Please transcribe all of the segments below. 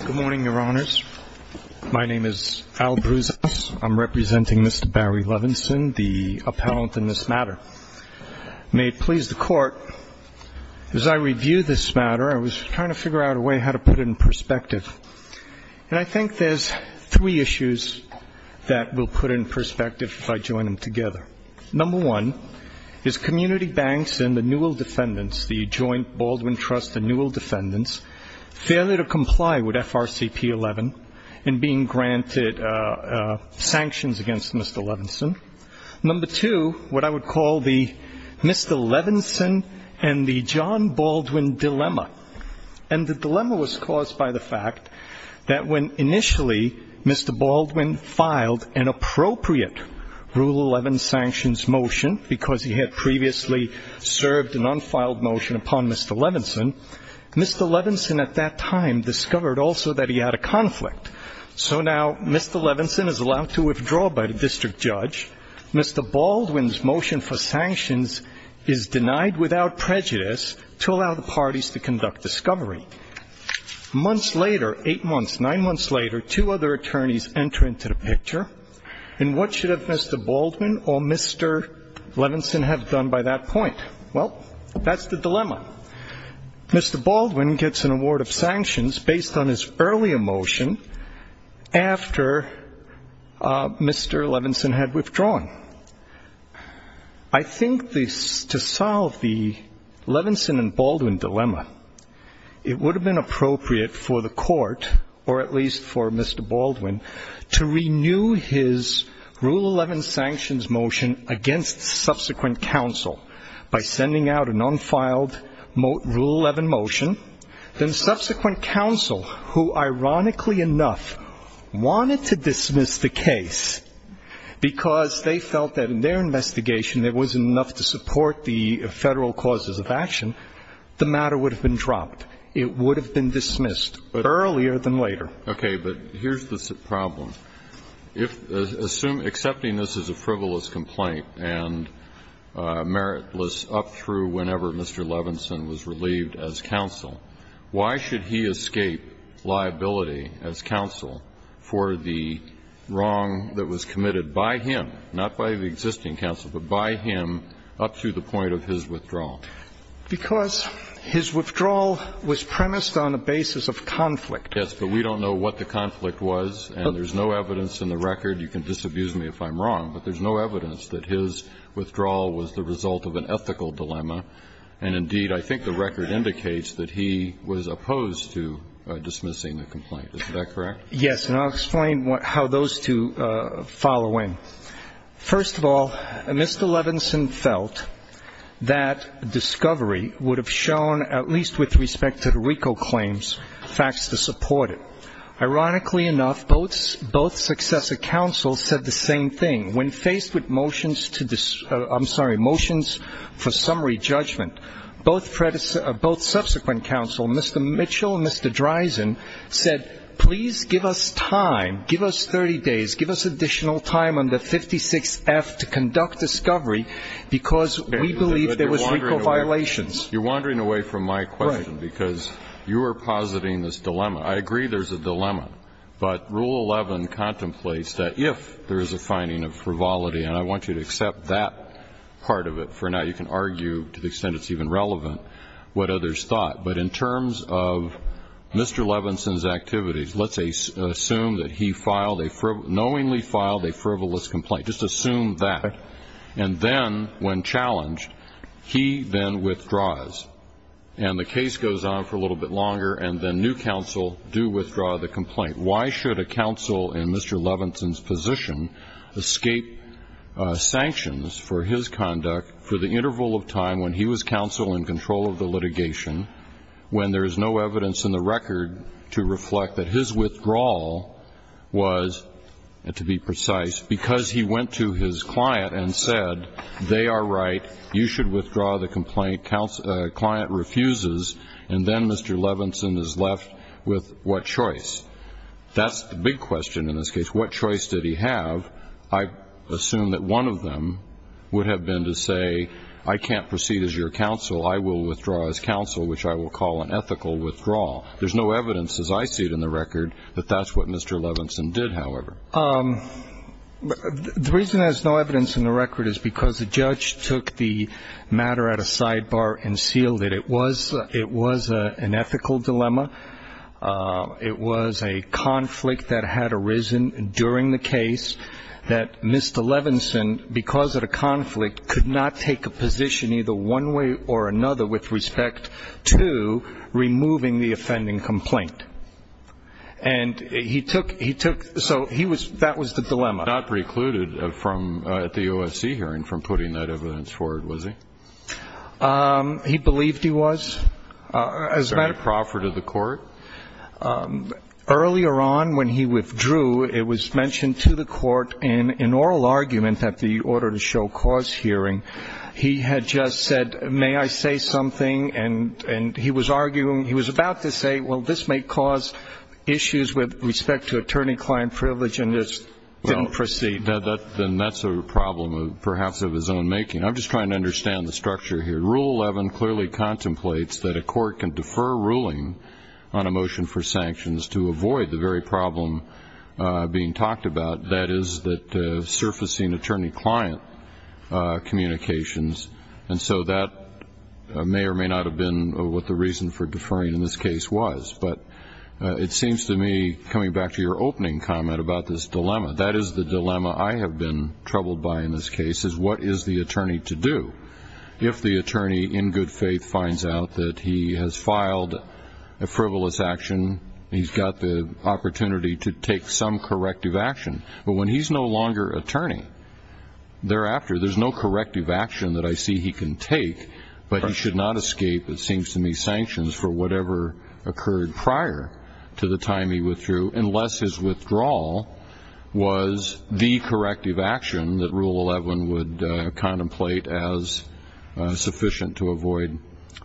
Good morning, Your Honors. My name is Al Bruzos. I'm representing Mr. Barry Levinson, the appellant in this matter. May it please the Court, as I review this matter, I was trying to figure out a way how to put it in perspective. And I think there's three issues that will put it in perspective if I join them together. Number one is community banks and the Newell defendants' failure to comply with FRCP 11 and being granted sanctions against Mr. Levinson. Number two, what I would call the Mr. Levinson and the John Baldwin dilemma. And the dilemma was caused by the fact that when initially Mr. Baldwin filed an appropriate Rule 11 sanctions motion because he had previously served an unfiled motion upon Mr. Levinson, Mr. Levinson at that time discovered also that he had a conflict. So now Mr. Levinson is allowed to withdraw by the district judge. Mr. Baldwin's motion for sanctions is denied without prejudice to allow the parties to conduct discovery. Months later, eight months, nine months later, two other attorneys enter into the picture. And what should have Mr. Baldwin or Mr. Levinson have done by that point? Well, that's the dilemma. Mr. Baldwin gets an award of sanctions based on his earlier motion after Mr. Levinson had withdrawn. I think to solve the Levinson and Baldwin dilemma, it would have been appropriate for the court, or at least for Mr. Baldwin, to renew his Rule 11 sanctions motion against subsequent counsel by sending out an unfiled Rule 11 motion. Then subsequent counsel, who ironically enough wanted to dismiss the case because they felt that in their investigation there wasn't enough to support the federal causes of action, the matter would have been dismissed earlier than later. Okay. But here's the problem. If assume accepting this as a frivolous complaint and meritless up through whenever Mr. Levinson was relieved as counsel, why should he escape liability as counsel for the wrong that was committed by him, not by the existing counsel, but by him up to the point of his withdrawal? Because his withdrawal was premised on a basis of conflict. Yes, but we don't know what the conflict was, and there's no evidence in the record you can disabuse me if I'm wrong, but there's no evidence that his withdrawal was the result of an ethical dilemma. And indeed, I think the record indicates that he was opposed to dismissing the complaint. Is that correct? Yes. And I'll explain how those two follow in. First of all, Mr. Levinson felt that discovery would have shown, at least with respect to the RICO claims, facts to support it. Ironically enough, both successor counsels said the same thing. When faced with motions to, I'm sorry, motions for summary judgment, both subsequent counsel, Mr. Mitchell and Mr. Dreisen said, please give us time, give us 30 days, give us additional time on the 56F to conduct discovery, because we believe there was RICO violations. You're wandering away from my question, because you are positing this dilemma. I agree there's a dilemma, but Rule 11 contemplates that if there is a finding of frivolity, and I want you to accept that part of it for now. You can argue, to the extent it's even relevant, what others thought. But in terms of Mr. Levinson's activities, let's assume that he filed a frivolous – knowingly challenged, he then withdraws. And the case goes on for a little bit longer, and then new counsel do withdraw the complaint. Why should a counsel in Mr. Levinson's position escape sanctions for his conduct for the interval of time when he was counsel in control of the litigation, when there is no evidence in the record to reflect that his withdrawal was, to be precise, because he went to his client and said, they are right, you should withdraw the complaint, client refuses, and then Mr. Levinson is left with what choice? That's the big question in this case. What choice did he have? I assume that one of them would have been to say, I can't proceed as your counsel, I will withdraw as counsel, which I will call an ethical withdrawal. There's no evidence, as I see it in the record, that that's what Mr. Levinson did, however. The reason there's no evidence in the record is because the judge took the matter at a sidebar and sealed it. It was an ethical dilemma. It was a conflict that had arisen during the case that Mr. Levinson, because of the conflict, could not take a position either one way or the other. He took, so that was the dilemma. He was not precluded at the OSC hearing from putting that evidence forward, was he? He believed he was, as a matter of fact. Was there any proffer to the court? Earlier on, when he withdrew, it was mentioned to the court in an oral argument at the order to show cause hearing, he had just said, may I say something, and he was arguing, he was arguing that the court may cause issues with respect to attorney-client privilege, and it didn't proceed. Then that's a problem of perhaps his own making. I'm just trying to understand the structure here. Rule 11 clearly contemplates that a court can defer ruling on a motion for sanctions to avoid the very problem being talked about, that is surfacing attorney-client communications, and so that may or may not have been what the reason for deferring in this case was. But it seems to me, coming back to your opening comment about this dilemma, that is the dilemma I have been troubled by in this case, is what is the attorney to do? If the attorney in good faith finds out that he has filed a frivolous action, he's got the opportunity to take some corrective action. But when he's no longer attorney, thereafter there's no corrective action that I see he can take, but he should not escape, it seems to me, sanctions for whatever occurred prior to the time he withdrew, unless his withdrawal was the corrective action that Rule 11 would contemplate as sufficient to avoid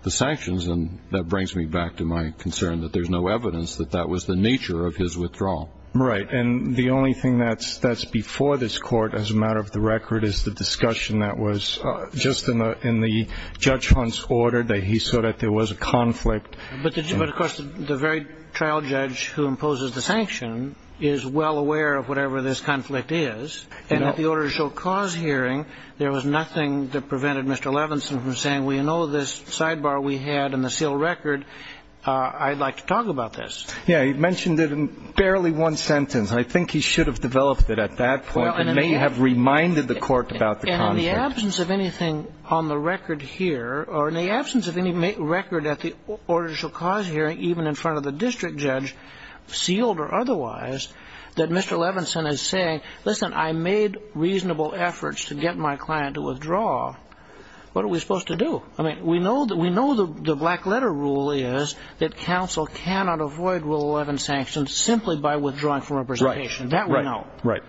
the sanctions. And that brings me back to my concern that there's no evidence that that was the nature of his withdrawal. Right. And the only thing that's before this court, as a matter of the record, is the discussion that was just in the Judge Hunt's order, that he saw that there was a conflict. But of course, the very trial judge who imposes the sanction is well aware of whatever this conflict is, and at the Order to Show Cause hearing, there was nothing that prevented Mr. Levinson from saying, well, you know, this sidebar we had in the seal record, I'd like to talk about this. Yeah. He mentioned it in barely one sentence. I think he should have developed it at that point and may have reminded the court about the conflict. In the absence of anything on the record here, or in the absence of any record at the Order to Show Cause hearing, even in front of the district judge, sealed or otherwise, that Mr. Levinson is saying, listen, I made reasonable efforts to get my client to withdraw, what are we supposed to do? I mean, we know the black letter rule is that counsel cannot avoid Rule 11 sanctions simply by withdrawing from representation. That we know. Right.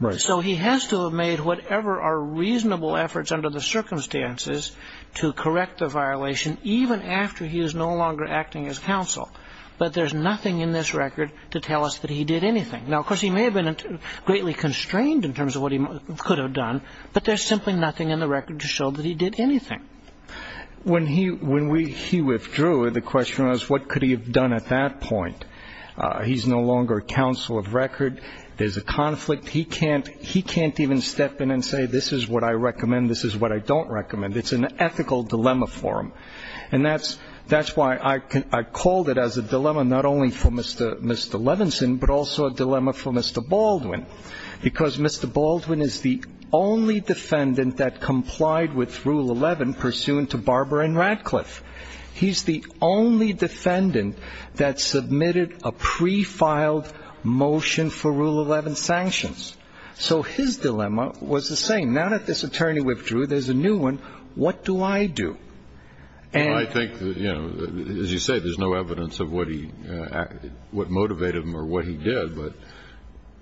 Right. So he has to have made whatever are reasonable efforts under the circumstances to correct the violation, even after he is no longer acting as counsel. But there's nothing in this record to tell us that he did anything. Now, of course, he may have been greatly constrained in terms of what he could have done, but there's simply nothing in the record to show that he did anything. When he withdrew, the question was, what could he have done at that point? He's no longer counsel of record. There's a conflict. He can't even step in and say, this is what I recommend, this is what I don't recommend. It's an ethical dilemma for him. And that's why I called it as a dilemma, not only for Mr. Levinson, but also a dilemma for Mr. Baldwin. Because Mr. Baldwin is the only defendant that complied with Rule 11 pursuant to Barbara Radcliffe. He's the only defendant that submitted a pre-filed motion for Rule 11 sanctions. So his dilemma was the same. Now that this attorney withdrew, there's a new one. What do I do? Well, I think, as you say, there's no evidence of what motivated him or what he did. But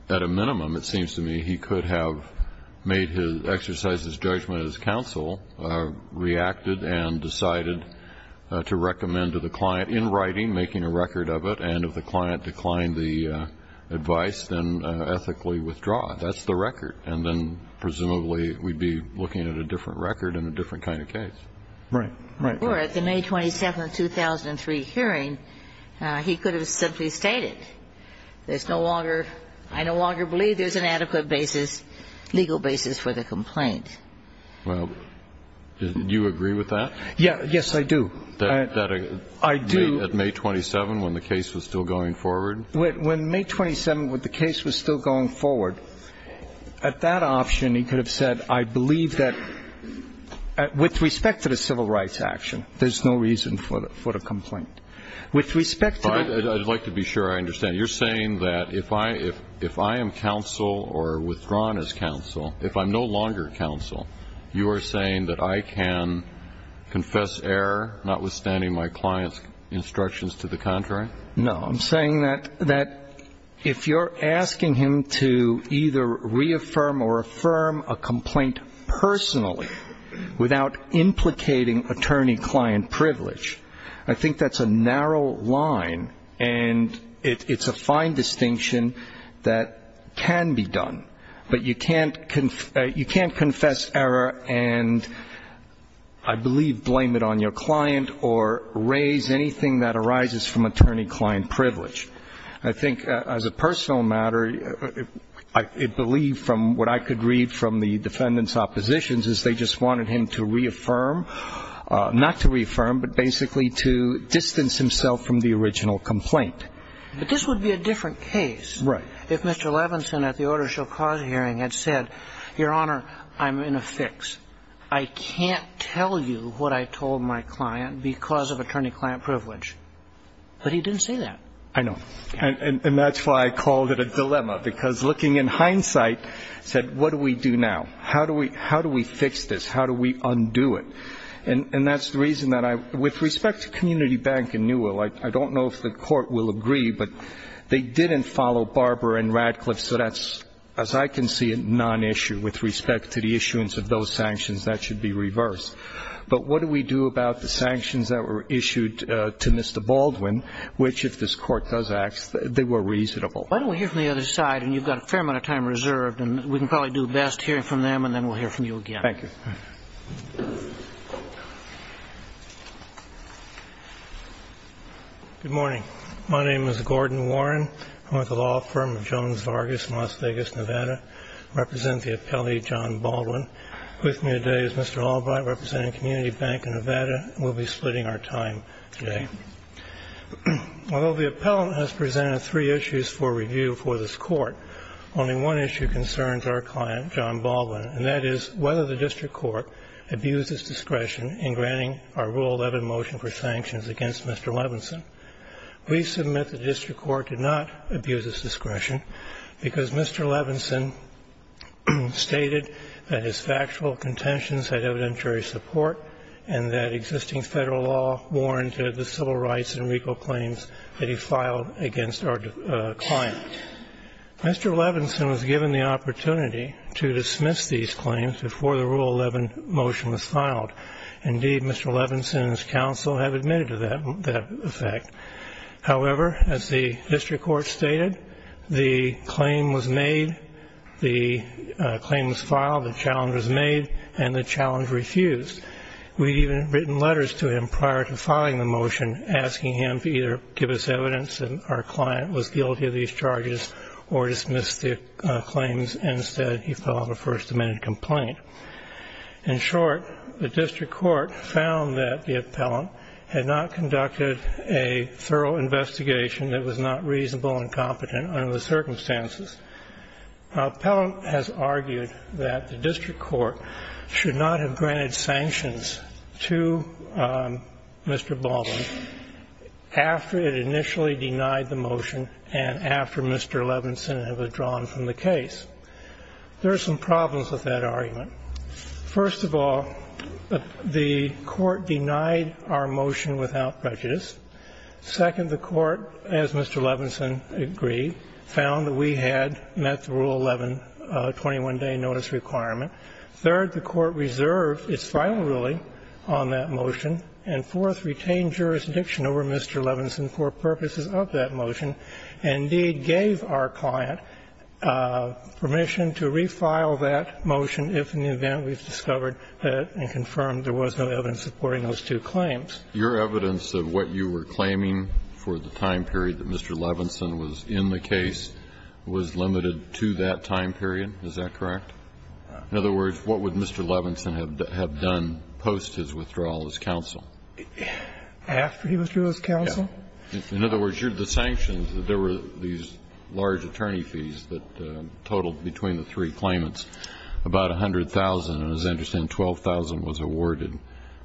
at a minimum, it seems to me, he could have made his exercises, judgment as counsel, reacted and decided to recommend to the client in writing, making a record of it, and if the client declined the advice, then ethically withdraw it. That's the record. And then presumably, we'd be looking at a different record in a different kind of case. Right. Right. Or at the May 27, 2003 hearing, he could have simply stated, there's no longer ‑‑ I no longer believe there's an adequate basis, legal basis for the complaint. Well, do you agree with that? Yes, I do. I do. At May 27, when the case was still going forward? When May 27, when the case was still going forward, at that option, he could have said, I believe that, with respect to the civil rights action, there's no reason for the complaint. With respect to the ‑‑ I'd like to be sure I understand. You're saying that if I am counsel or withdrawn as counsel, if I'm no longer counsel, you are saying that I can confess error, notwithstanding my client's instructions to the contrary? No. I'm saying that if you're asking him to either reaffirm or affirm a complaint personally, without implicating attorney‑client privilege, I think that's a narrow line, and it's a fine distinction that can be done, but you can't confess error and I believe blame it on your client or raise anything that arises from attorney‑ client privilege. I think as a personal matter, I believe from what I could read from the defendant's oppositions is they just wanted him to reaffirm, not to reaffirm the original complaint. But this would be a different case if Mr. Levinson at the order shall cause hearing had said, Your Honor, I'm in a fix. I can't tell you what I told my client because of attorney‑client privilege. But he didn't say that. I know. And that's why I called it a dilemma, because looking in hindsight, I said, what do we do now? How do we fix this? How do we undo it? And that's the community bank in Newell. I don't know if the court will agree, but they didn't follow Barber and Radcliffe, so that's, as I can see it, non‑issue with respect to the issuance of those sanctions. That should be reversed. But what do we do about the sanctions that were issued to Mr. Baldwin, which, if this court does act, they were reasonable. Why don't we hear from the other side, and you've got a fair amount of time reserved, and we can probably do best hearing from them, and then we'll hear from you again. Thank you. Good morning. My name is Gordon Warren. I'm with the law firm of Jones Vargas in Las Vegas, Nevada. I represent the appellee, John Baldwin. With me today is Mr. Albright, representing Community Bank of Nevada, and we'll be splitting our time today. Although the appellant has presented three issues for review for this court, only one issue concerns our client, John Baldwin, and that is whether the district court abused its discretion in granting our Rule 11 motion for sanctions against Mr. Levinson. We submit that the district court did not abuse its discretion because Mr. Levinson stated that his factual contentions had evidentiary support and that existing Federal law warranted the civil rights and legal claims that he filed against our client. Mr. Levinson was given the opportunity to dismiss these claims before the Rule 11 motion was filed. Indeed, Mr. Levinson and his counsel have admitted to that effect. However, as the district court stated, the claim was made, the claim was filed, the challenge was made, and the challenge refused. We'd even written letters to him prior to filing the motion asking him to either give us evidence that our client was guilty of these charges or dismiss the claims. Instead, he filed a First Amendment complaint. In short, the district court found that the appellant had not conducted a thorough investigation that was not reasonable and competent under the circumstances. The appellant has argued that the district court should not have granted sanctions to Mr. Baldwin after it initially denied the motion and after Mr. Levinson had withdrawn from the case. There are some problems with that argument. First of all, the court denied our motion without prejudice. Second, the court, as Mr. Levinson agreed, found that we had met the Rule 11 21-day notice requirement. Third, the court reserved its final ruling on that motion. And fourth, retained jurisdiction over Mr. Levinson for purposes of that motion, and indeed gave our client permission to refile that motion if, in the event we've discovered and confirmed there was no evidence supporting those two claims. Your evidence of what you were claiming for the time period that Mr. Levinson was in the case was limited to that time period. Is that correct? In other words, what would Mr. Levinson have done post his withdrawal as counsel? After he was through as counsel? In other words, the sanctions, there were these large attorney fees that totaled between the three claimants, about $100,000, and as I understand, $12,000 was awarded.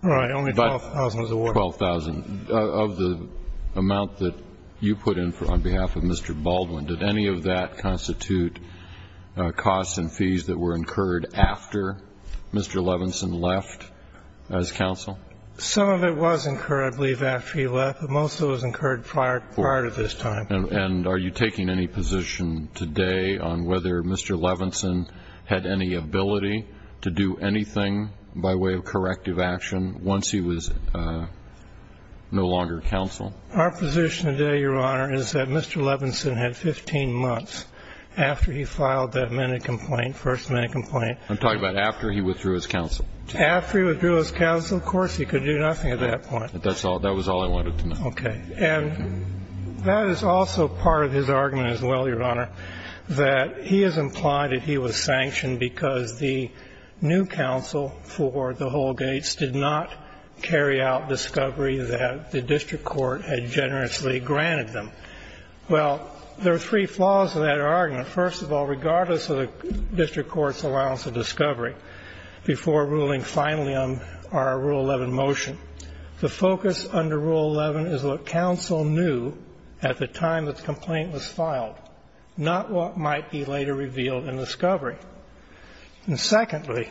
Right. Only $12,000 was awarded. $12,000. Of the amount that you put in on behalf of Mr. Baldwin, did any of that were incurred after Mr. Levinson left as counsel? Some of it was incurred, I believe, after he left, but most of it was incurred prior to this time. And are you taking any position today on whether Mr. Levinson had any ability to do anything by way of corrective action once he was no longer counsel? Our position today, Your Honor, is that Mr. Levinson had 15 months after he filed that minute complaint, first minute complaint. I'm talking about after he withdrew as counsel. After he withdrew as counsel, of course, he could do nothing at that point. That's all. That was all I wanted to know. Okay. And that is also part of his argument as well, Your Honor, that he has implied that he was sanctioned because the new counsel for the Holgates did not carry out discovery that the district court had generously granted them. Well, there are three flaws to that argument. First of all, regardless of the district court's allowance of discovery, before ruling finally on our Rule 11 motion, the focus under Rule 11 is what counsel knew at the time that the complaint was filed, not what might be later revealed in discovery. And secondly,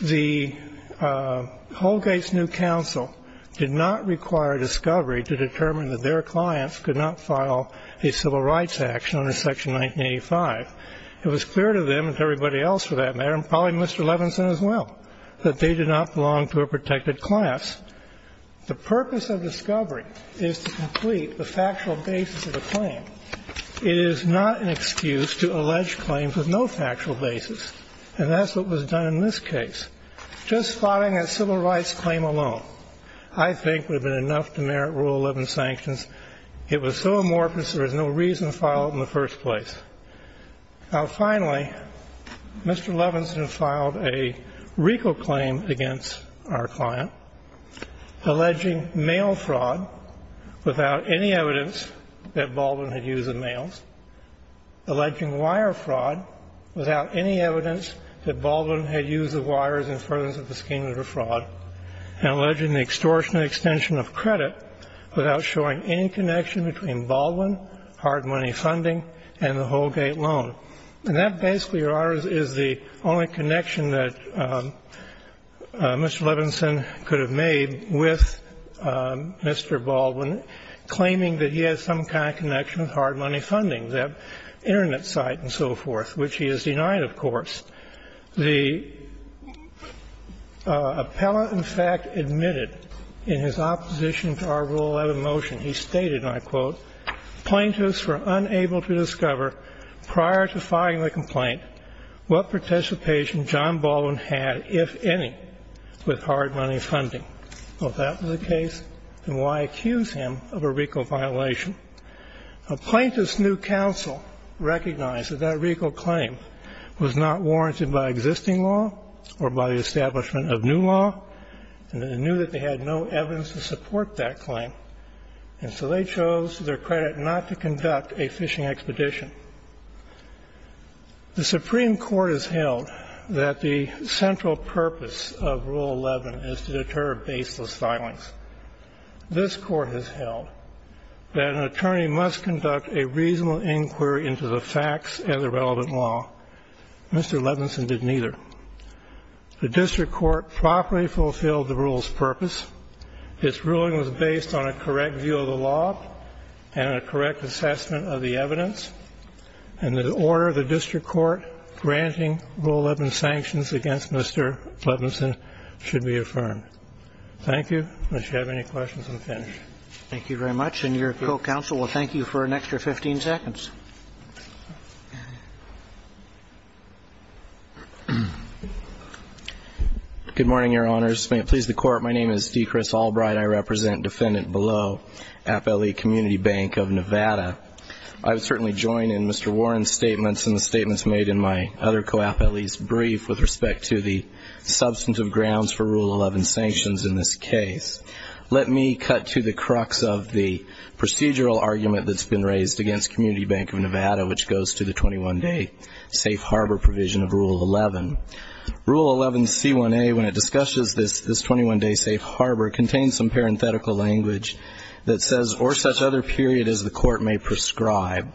the Holgates new counsel did not require discovery to determine that their clients could not file a civil rights action under Section 1985. It was clear to them and to everybody else for that matter, and probably Mr. Levinson as well, that they did not belong to a protected class. The purpose of discovery is to complete the factual basis of the claim. It is not an excuse to allege claims with no factual basis. And that's what was done in this case. Just filing a civil rights claim alone, I think, would have been enough to merit Rule 11 sanctions. It was so amorphous, there was no reason to file it in the first place. Now, finally, Mr. Levinson filed a RICO claim against our client, alleging mail fraud without any evidence that Baldwin had used the mails, alleging wire fraud without any evidence that Baldwin had used the wires in front of the scheme of the without showing any connection between Baldwin, hard money funding, and the Holgate loan. And that basically, Your Honors, is the only connection that Mr. Levinson could have made with Mr. Baldwin, claiming that he had some kind of connection with hard money funding, that Internet site and so forth, which he has denied, of course. The appellant, in fact, admitted in his opposition to our Rule 11 motion, he stated, and I quote, plaintiffs were unable to discover, prior to filing the complaint, what participation John Baldwin had, if any, with hard money funding. Well, if that was the case, then why accuse him of a RICO violation? A plaintiff's new counsel recognized that that RICO claim was not warranted by existing law or by the establishment of new law, and they knew that they had no evidence to support that claim. And so they chose, to their credit, not to conduct a phishing expedition. The Supreme Court has held that the central purpose of Rule 11 is to deter baseless filings. This Court has held that an attorney must conduct a reasonable inquiry into the facts and the relevant law. Mr. Levinson did neither. The District Court properly fulfilled the Rule's purpose. Its ruling was based on a correct view of the law and a correct assessment of the evidence, and the order of the District Court granting Rule 11 sanctions against Mr. Levinson should be affirmed. Thank you. Unless you have any questions, I'm finished. Thank you very much. And your co-counsel will thank you for an extra 15 seconds. Good morning, Your Honors. May it please the Court, my name is D. Chris Albright. I represent Defendant Below, Appellee Community Bank of Nevada. I would certainly join in Mr. Warren's statements and the statements made in my other co-appellee's brief with respect to the substantive grounds for Rule 11 sanctions in this case. Let me cut to the crux of the procedural argument that's been raised against Community Bank of Nevada, which goes to the 21-day safe harbor provision of Rule 11. Rule 11C1A, when it discusses this 21-day safe harbor, contains some parenthetical language that says, or such other period as the Court may prescribe.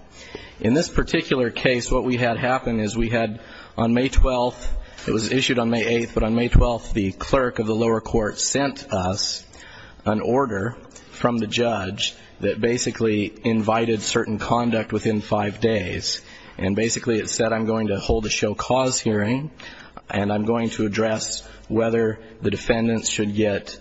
In this particular case, what we had happen is we had on May 12th, it was issued on May 8th, but on May 12th, the clerk of the lower court sent us an order from the judge that basically invited certain conduct within five days. And basically it said, I'm going to hold a show cause hearing, and I'm going to address whether the defendants should get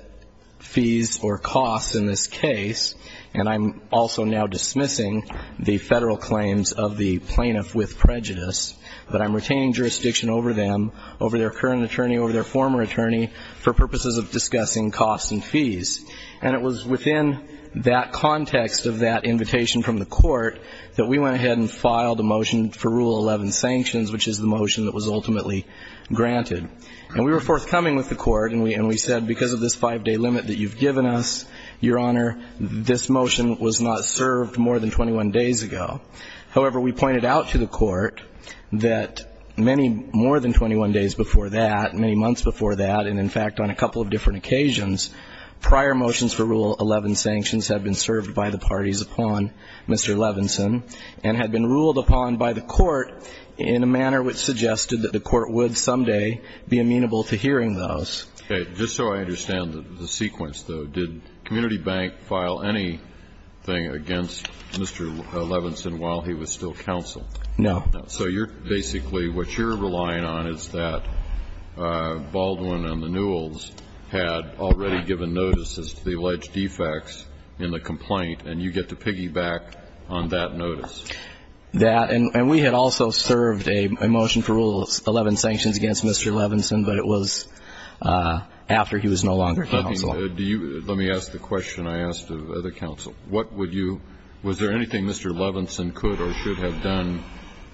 fees or costs in this case. And I'm also now dismissing the federal claims of the plaintiff with prejudice, but I'm retaining jurisdiction over them, over their current attorney, over their former attorney, for purposes of discussing costs and fees. And it was within that context of that invitation from the court that we went ahead and filed a motion for Rule 11 sanctions, which is the motion that was ultimately granted. And we were forthcoming with the court, and we said, because of this five-day limit that you've given us, Your Honor, this motion was not served more than 21 days ago. However, we pointed out to the court that many more than 21 days before that, many months before that, and in fact on a couple of different occasions, prior motions for Rule 11 sanctions have been served by the parties upon Mr. Levinson and had been ruled upon by the court in a manner which suggested that the court would someday be amenable to hearing those. Okay. Just so I understand the sequence, though, did Community Bank file anything against Mr. Levinson while he was still counsel? No. So you're basically, what you're relying on is that Baldwin and the Newells had already given notices to the alleged defects in the complaint, and you get to piggyback on that notice. That, and we had also served a motion for Rule 11 sanctions against Mr. Levinson, but it was after he was no longer counsel. Let me ask the question I asked of the counsel. What would you, was there anything Mr. Levinson could or should have done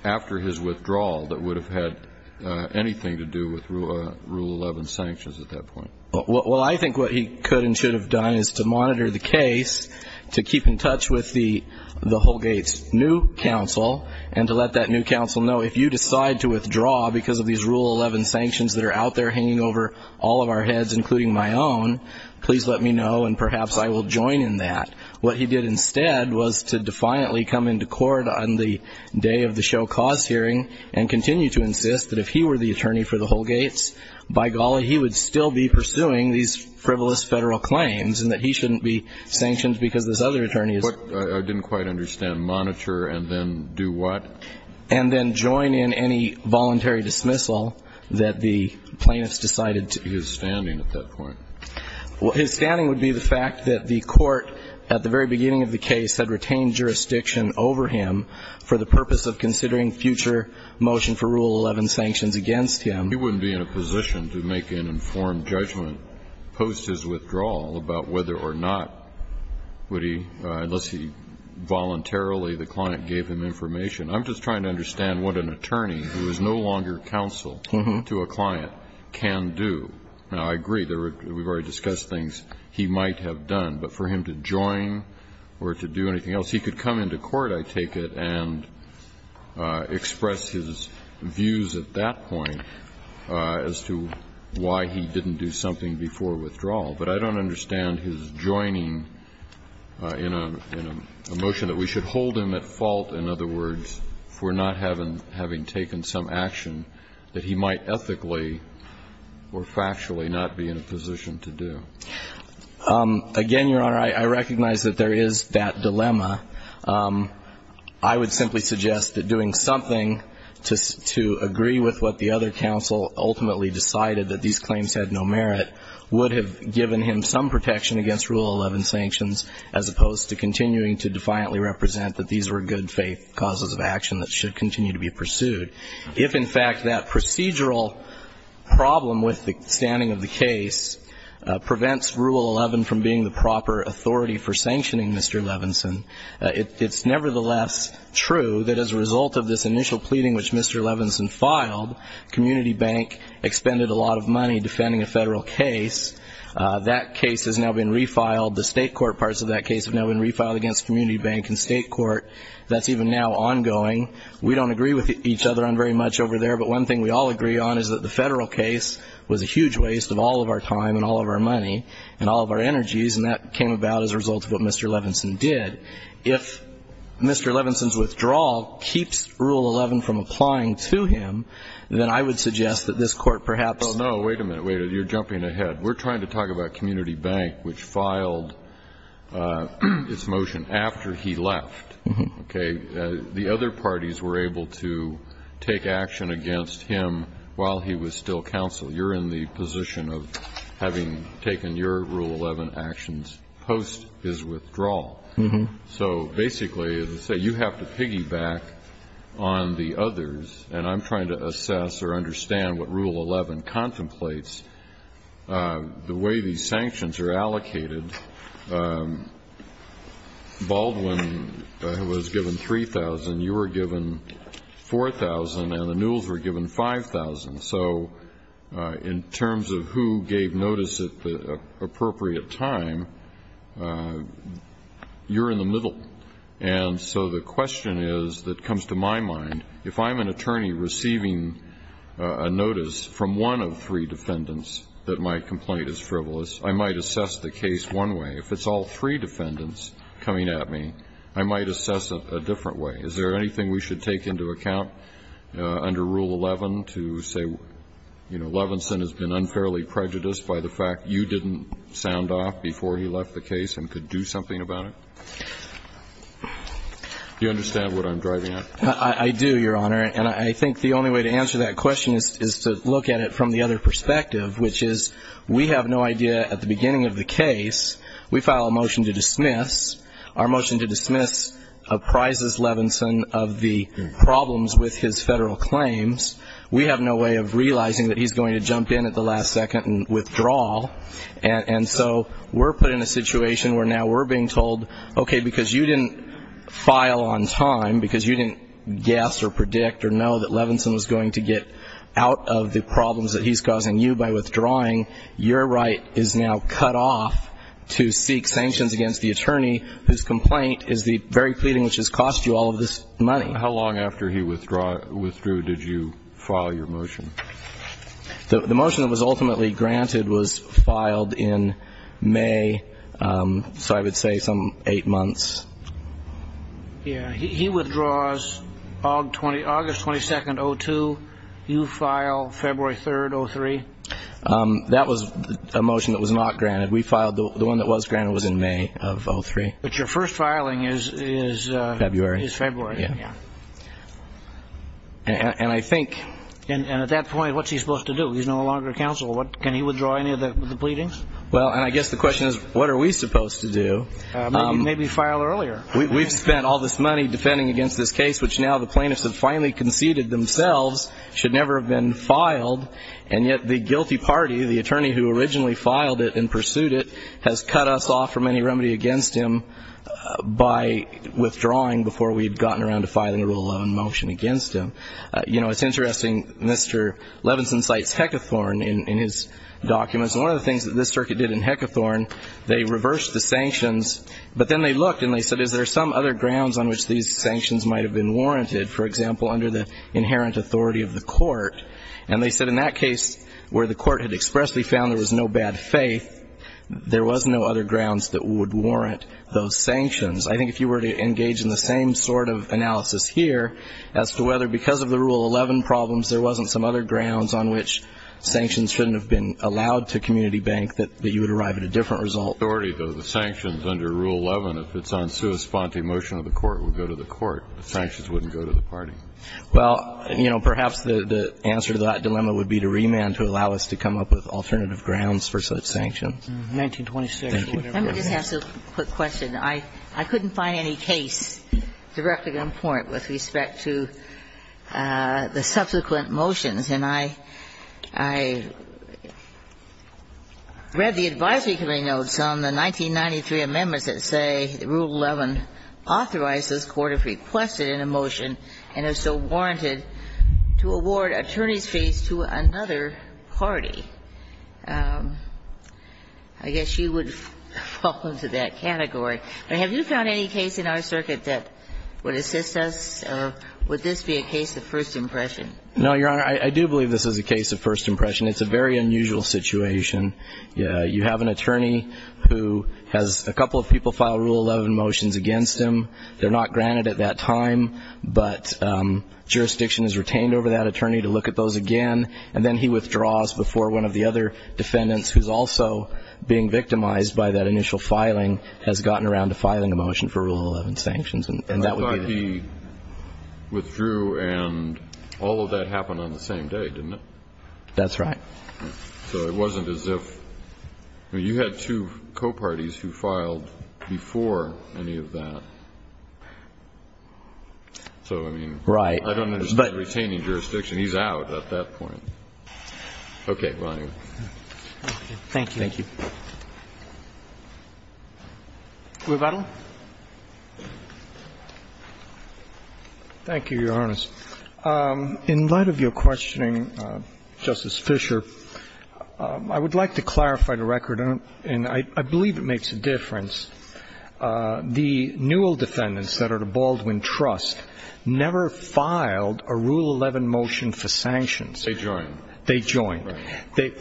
after his withdrawal that would have had anything to do with Rule 11 sanctions at that point? Well, I think what he could and should have done is to monitor the case, to keep in touch with the Holgate's new counsel, and to let that new counsel know if you decide to withdraw because of these Rule 11 sanctions that are out there hanging over all of our heads, including my own, please let me know, and perhaps I will join in that. What he did instead was to defiantly come into court on the day of the show cause hearing and continue to insist that if he were the attorney for the Holgate's, by golly, he would still be pursuing these frivolous federal claims, and that he shouldn't be sanctioned because this other attorney is... I didn't quite understand. Monitor and then do what? And then join in any voluntary dismissal that the plaintiffs decided to... His standing at that point. Well, his standing would be the fact that the court at the very beginning of the case had retained jurisdiction over him for the purpose of considering future motion for Rule 11 sanctions against him. He wouldn't be in a position to make an informed judgment post his withdrawal about whether or not would he, unless he voluntarily, the client gave him information. I'm just trying to understand what an attorney who is no longer counsel to a client can do. Now, I agree, we've already discussed things he might have done, but for him to join or to do anything else, he could come into court, I take it, and express his views at that point as to why he didn't do something before withdrawal, but I don't understand his joining in a motion that we should hold him at fault, in other words, that we should hold him at fault for not having taken some action that he might ethically or factually not be in a position to do. Again, Your Honor, I recognize that there is that dilemma. I would simply suggest that doing something to agree with what the other counsel ultimately decided, that these claims had no merit, would have given him some protection against Rule 11 sanctions, as opposed to continuing to defiantly represent that these were good faith causes of action that should continue to be pursued. If, in fact, that procedural problem with the standing of the case prevents Rule 11 from being the proper authority for sanctioning Mr. Levinson, it's nevertheless true that as a result of this initial pleading, which Mr. Levinson filed, Community Bank expended a lot of money defending a federal case. That case has now been refiled. The state court parts of that case have now been refiled against Community Bank and state court. That's even now ongoing. We don't agree with each other on very much over there. But one thing we all agree on is that the federal case was a huge waste of all of our time and all of our money and all of our energies. And that came about as a result of what Mr. Levinson did. If Mr. Levinson's withdrawal keeps Rule 11 from applying to him, then I would suggest that this court perhaps. Well, no, wait a minute. Wait a minute. You're jumping ahead. We're trying to talk about Community Bank, which filed its motion after he left. OK. The other parties were able to take action against him while he was still counsel. You're in the position of having taken your Rule 11 actions post his withdrawal. So basically, as I say, you have to piggyback on the others. And I'm trying to assess or understand what Rule 11 contemplates. The way these sanctions are allocated, Baldwin was given $3,000, you were given $4,000, and the Newell's were given $5,000. So in terms of who gave notice at the appropriate time, you're in the middle. And so the question is, that comes to my mind, if I'm an attorney receiving a notice from one of three defendants that my complaint is frivolous, I might assess the case one way. If it's all three defendants coming at me, I might assess it a different way. Is there anything we should take into account under Rule 11 to say, you know, Levinson has been unfairly prejudiced by the fact you didn't sound off before he left the case and could do something about it? Do you understand what I'm driving at? I do, Your Honor. And I think the only way to answer that question is to look at it from the other perspective, which is, we have no idea at the beginning of the case, we file a motion to dismiss. Our motion to dismiss apprises Levinson of the problems with his federal claims. We have no way of realizing that he's going to jump in at the last second and withdraw. And so we're put in a situation where now we're being told, okay, because you didn't file on time, because you didn't guess or predict or know that Levinson was going to get out of the problems that he's causing you by withdrawing, your right is now cut off to seek sanctions against the attorney whose complaint is the very pleading which has cost you all of this money. How long after he withdrew, did you file your motion? The motion that was ultimately granted was filed in May, so I would say some eight months. Yeah, he withdraws August 22nd, 02. You file February 3rd, 03. That was a motion that was not granted. We filed, the one that was granted was in May of 03. But your first filing is February. Yeah. And I think... And at that point, what's he supposed to do? He's no longer counsel. Can he withdraw any of the pleadings? Well, and I guess the question is, what are we supposed to do? Maybe file earlier. We've spent all this money defending against this case, which now the plaintiffs have finally conceded themselves should never have been filed, and yet the guilty party, the attorney who originally filed it and pursued it, has cut us off from any remedy against him by withdrawing before we had gotten around to filing a rule of law and motion against him. You know, it's interesting, Mr. Levinson cites Hecathorne in his documents, and one of the things that this circuit did in Hecathorne, they reversed the sanctions, but then they looked and they said, is there some other grounds on which these sanctions might have been warranted, for example, under the inherent authority of the court? And they said in that case where the court had expressly found there was no bad faith, there was no other grounds that would warrant those sanctions. I think if you were to engage in the same sort of analysis here as to whether because of the Rule 11 problems there wasn't some other grounds on which sanctions shouldn't have been allowed to community bank, that you would arrive at a different result. The sanctions under Rule 11, if it's on sua sponte motion of the court, would go to the court. The sanctions wouldn't go to the party. Well, you know, perhaps the answer to that dilemma would be to remand to allow us to come up with alternative grounds for such sanctions. 1926. Let me just ask a quick question. I couldn't find any case directly on point with respect to the subsequent motions. And I read the advisory committee notes on the 1993 amendments that say Rule 11 authorizes court if requested in a motion and is so warranted to award attorney's fees to another party. I guess you would fall into that category. But have you found any case in our circuit that would assist us? Or would this be a case of first impression? No, Your Honor. I do believe this is a case of first impression. It's a very unusual situation. You have an attorney who has a couple of people file Rule 11 motions against him. They're not granted at that time. But jurisdiction is retained over that attorney to look at those again. And then he withdraws before one of the other defendants who's also being victimized by that initial filing has gotten around to filing a motion for Rule 11 sanctions. And that would be the case. But I thought he withdrew and all of that happened on the same day, didn't it? That's right. So it wasn't as if you had two co-parties who filed before any of that. So, I mean, I don't understand retaining jurisdiction. He's out at that point. Okay. Thank you. Thank you. Thank you. Revetal. Thank you, Your Honor. In light of your questioning, Justice Fischer, I would like to clarify the record. And I believe it makes a difference. The Newell defendants that are to Baldwin Trust never filed a Rule 11 motion for sanctions. They joined. They joined.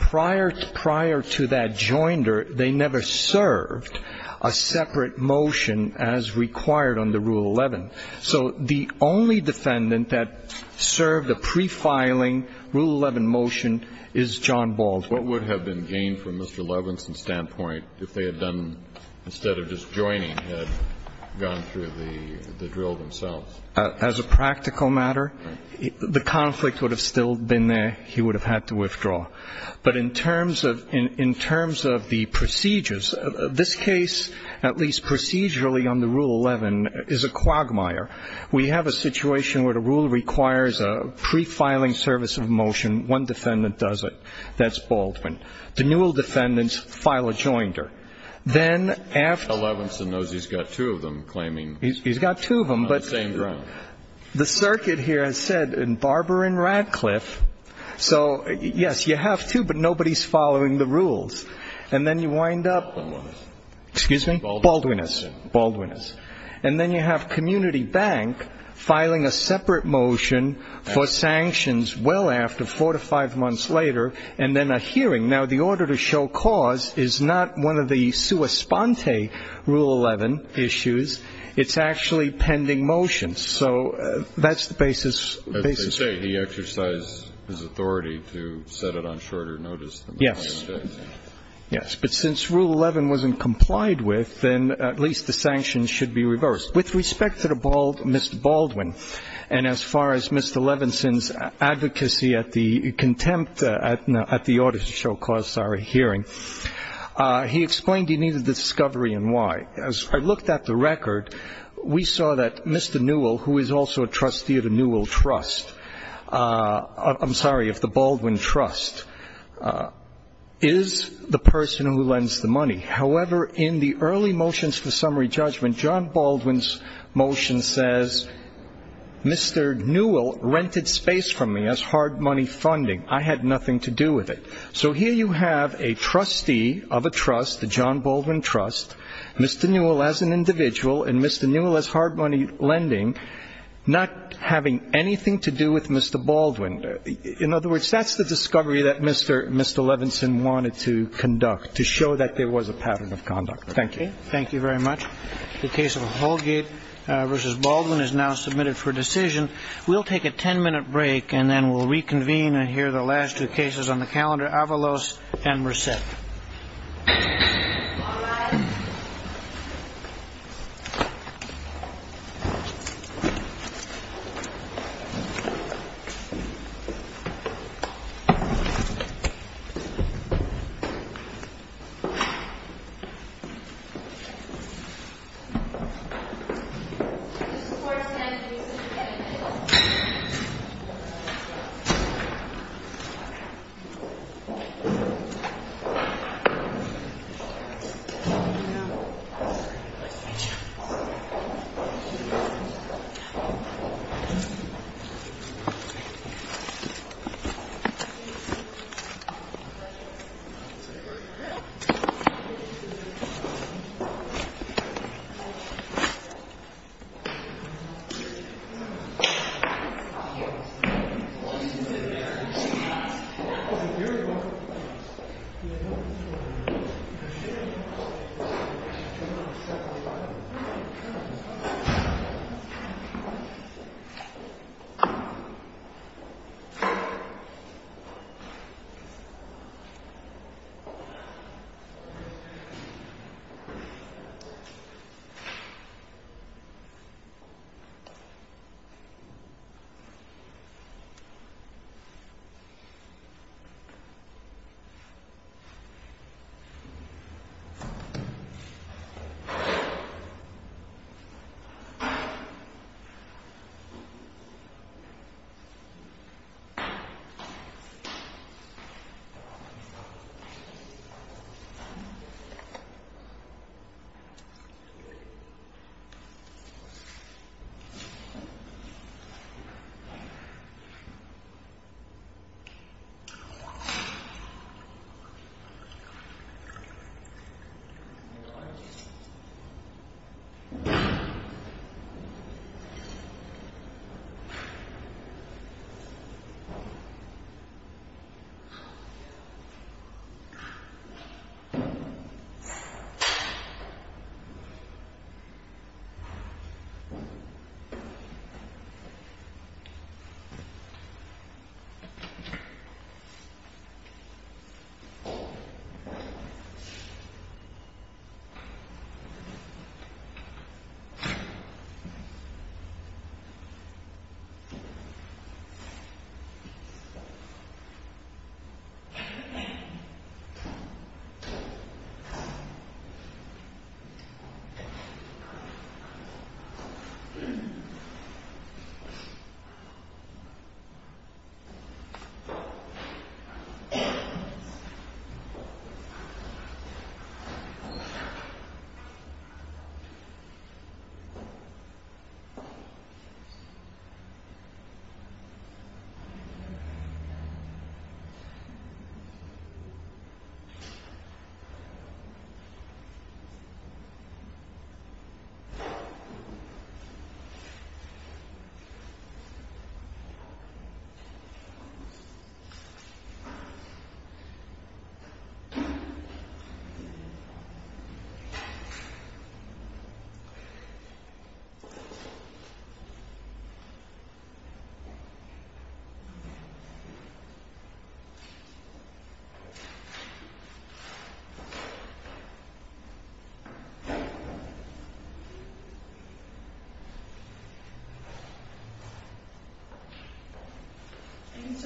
Prior to that joinder, they never served a separate motion as required under Rule 11. So the only defendant that served a prefiling Rule 11 motion is John Baldwin. What would have been gained from Mr. Levinson's standpoint if they had done, instead of just joining, had gone through the drill themselves? As a practical matter, the conflict would have still been there. He would have had to withdraw. But in terms of the procedures, this case, at least procedurally under Rule 11, is a quagmire. We have a situation where the rule requires a prefiling service of motion. One defendant does it. That's Baldwin. The Newell defendants file a joinder. Then after ---- Well, Levinson knows he's got two of them claiming ---- He's got two of them, but ---- On the same ground. The circuit here has said Barber and Radcliffe. So, yes, you have two, but nobody's following the rules. And then you wind up ---- Baldwinus. Excuse me? Baldwinus. Baldwinus. And then you have Community Bank filing a separate motion for sanctions well after four to five months later, and then a hearing. Now, the order to show cause is not one of the sua sponte Rule 11 issues. It's actually pending motions. So that's the basis ---- As they say, he exercised his authority to set it on shorter notice than ---- Yes. Yes. But since Rule 11 wasn't complied with, then at least the sanctions should be reversed. With respect to Mr. Baldwin and as far as Mr. Levinson's advocacy at the contempt at the order to show cause, sorry, hearing, he explained he needed the discovery and why. As I looked at the record, we saw that Mr. Newell, who is also a trustee of the Newell Trust, I'm sorry, of the Baldwin Trust, is the person who lends the money. However, in the early motions for summary judgment, John Baldwin's motion says, Mr. Newell rented space from me as hard money funding. I had nothing to do with it. So here you have a trustee of a trust, the John Baldwin Trust, Mr. Newell as an individual, and Mr. Newell as hard money lending, not having anything to do with Mr. Baldwin. In other words, that's the discovery that Mr. Levinson wanted to conduct to show that there was a pattern of conduct. Thank you. Thank you very much. The case of Holgate v. Baldwin is now submitted for decision. We'll take a 10-minute break and then we'll reconvene and hear the last two cases on the calendar, Avalos and Merced. All rise. Thank you. Thank you. Thank you. Thank you. Thank you. Thank you. Thank you. Are you Mr.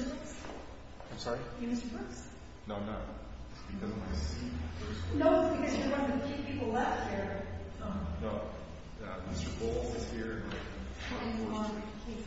Brooks? I'm sorry? Are you Mr. Brooks? No, I'm not. It's because of my seat. No, it's because you're one of the few people left here. No. No. Mr. Bowles is here. What do you want with the case?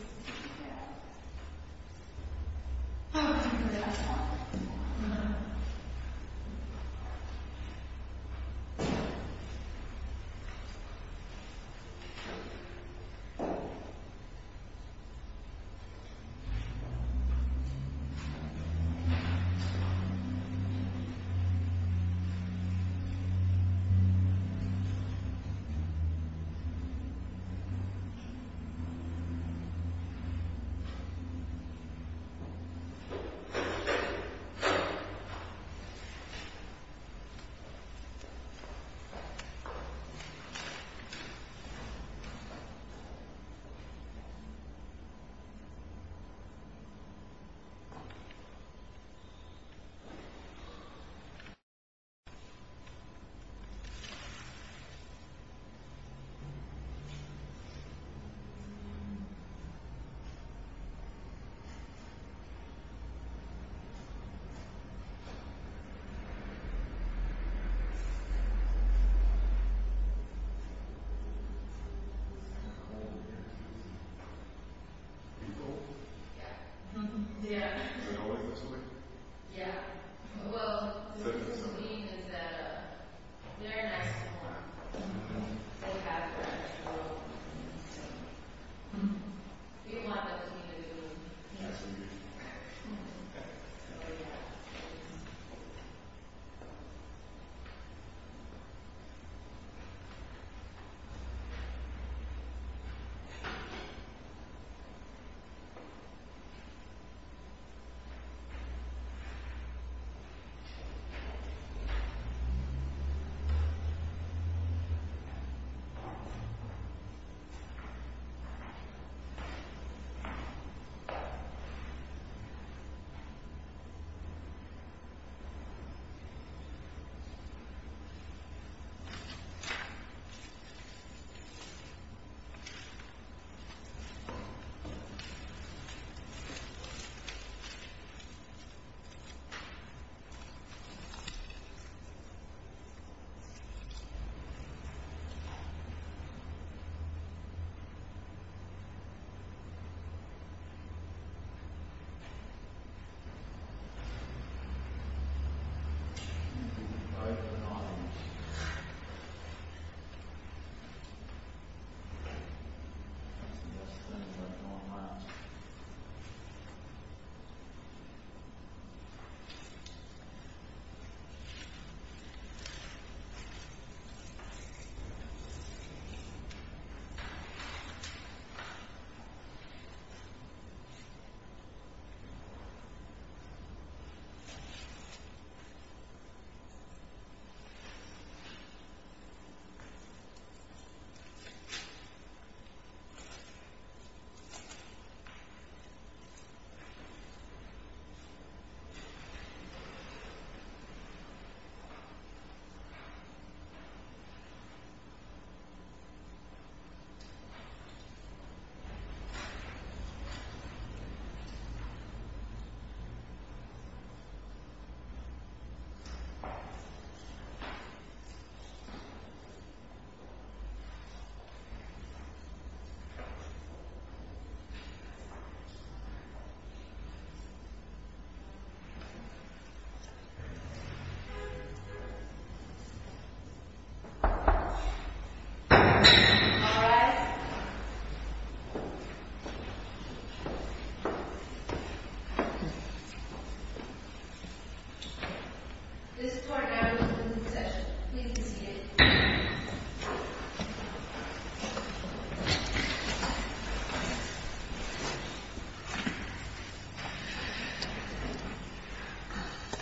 I want to talk to you about the last one. Uh-huh. Thank you. Thank you. Thank you. Thank you. Thank you. Thank you. Are you both? Yes. mice Well, what it doesn't mean is that they're nice to warm. They have their own world. You want the community to be nice to you. Oh, yeah. Yeah. Yeah. Yeah. Yeah. Yeah. Yeah. Yeah. Yeah. Okay. Okay. Yeah. Yeah. Yeah. Yeah. Yeah. Okay. Yes. Yeah. Okay. Okay. Yes. Okay. No. All rise. This part now is a moving section. Please restrain yourself.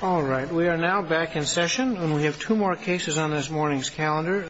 All right. We are now back in session, and we have two more cases on this morning's calendar.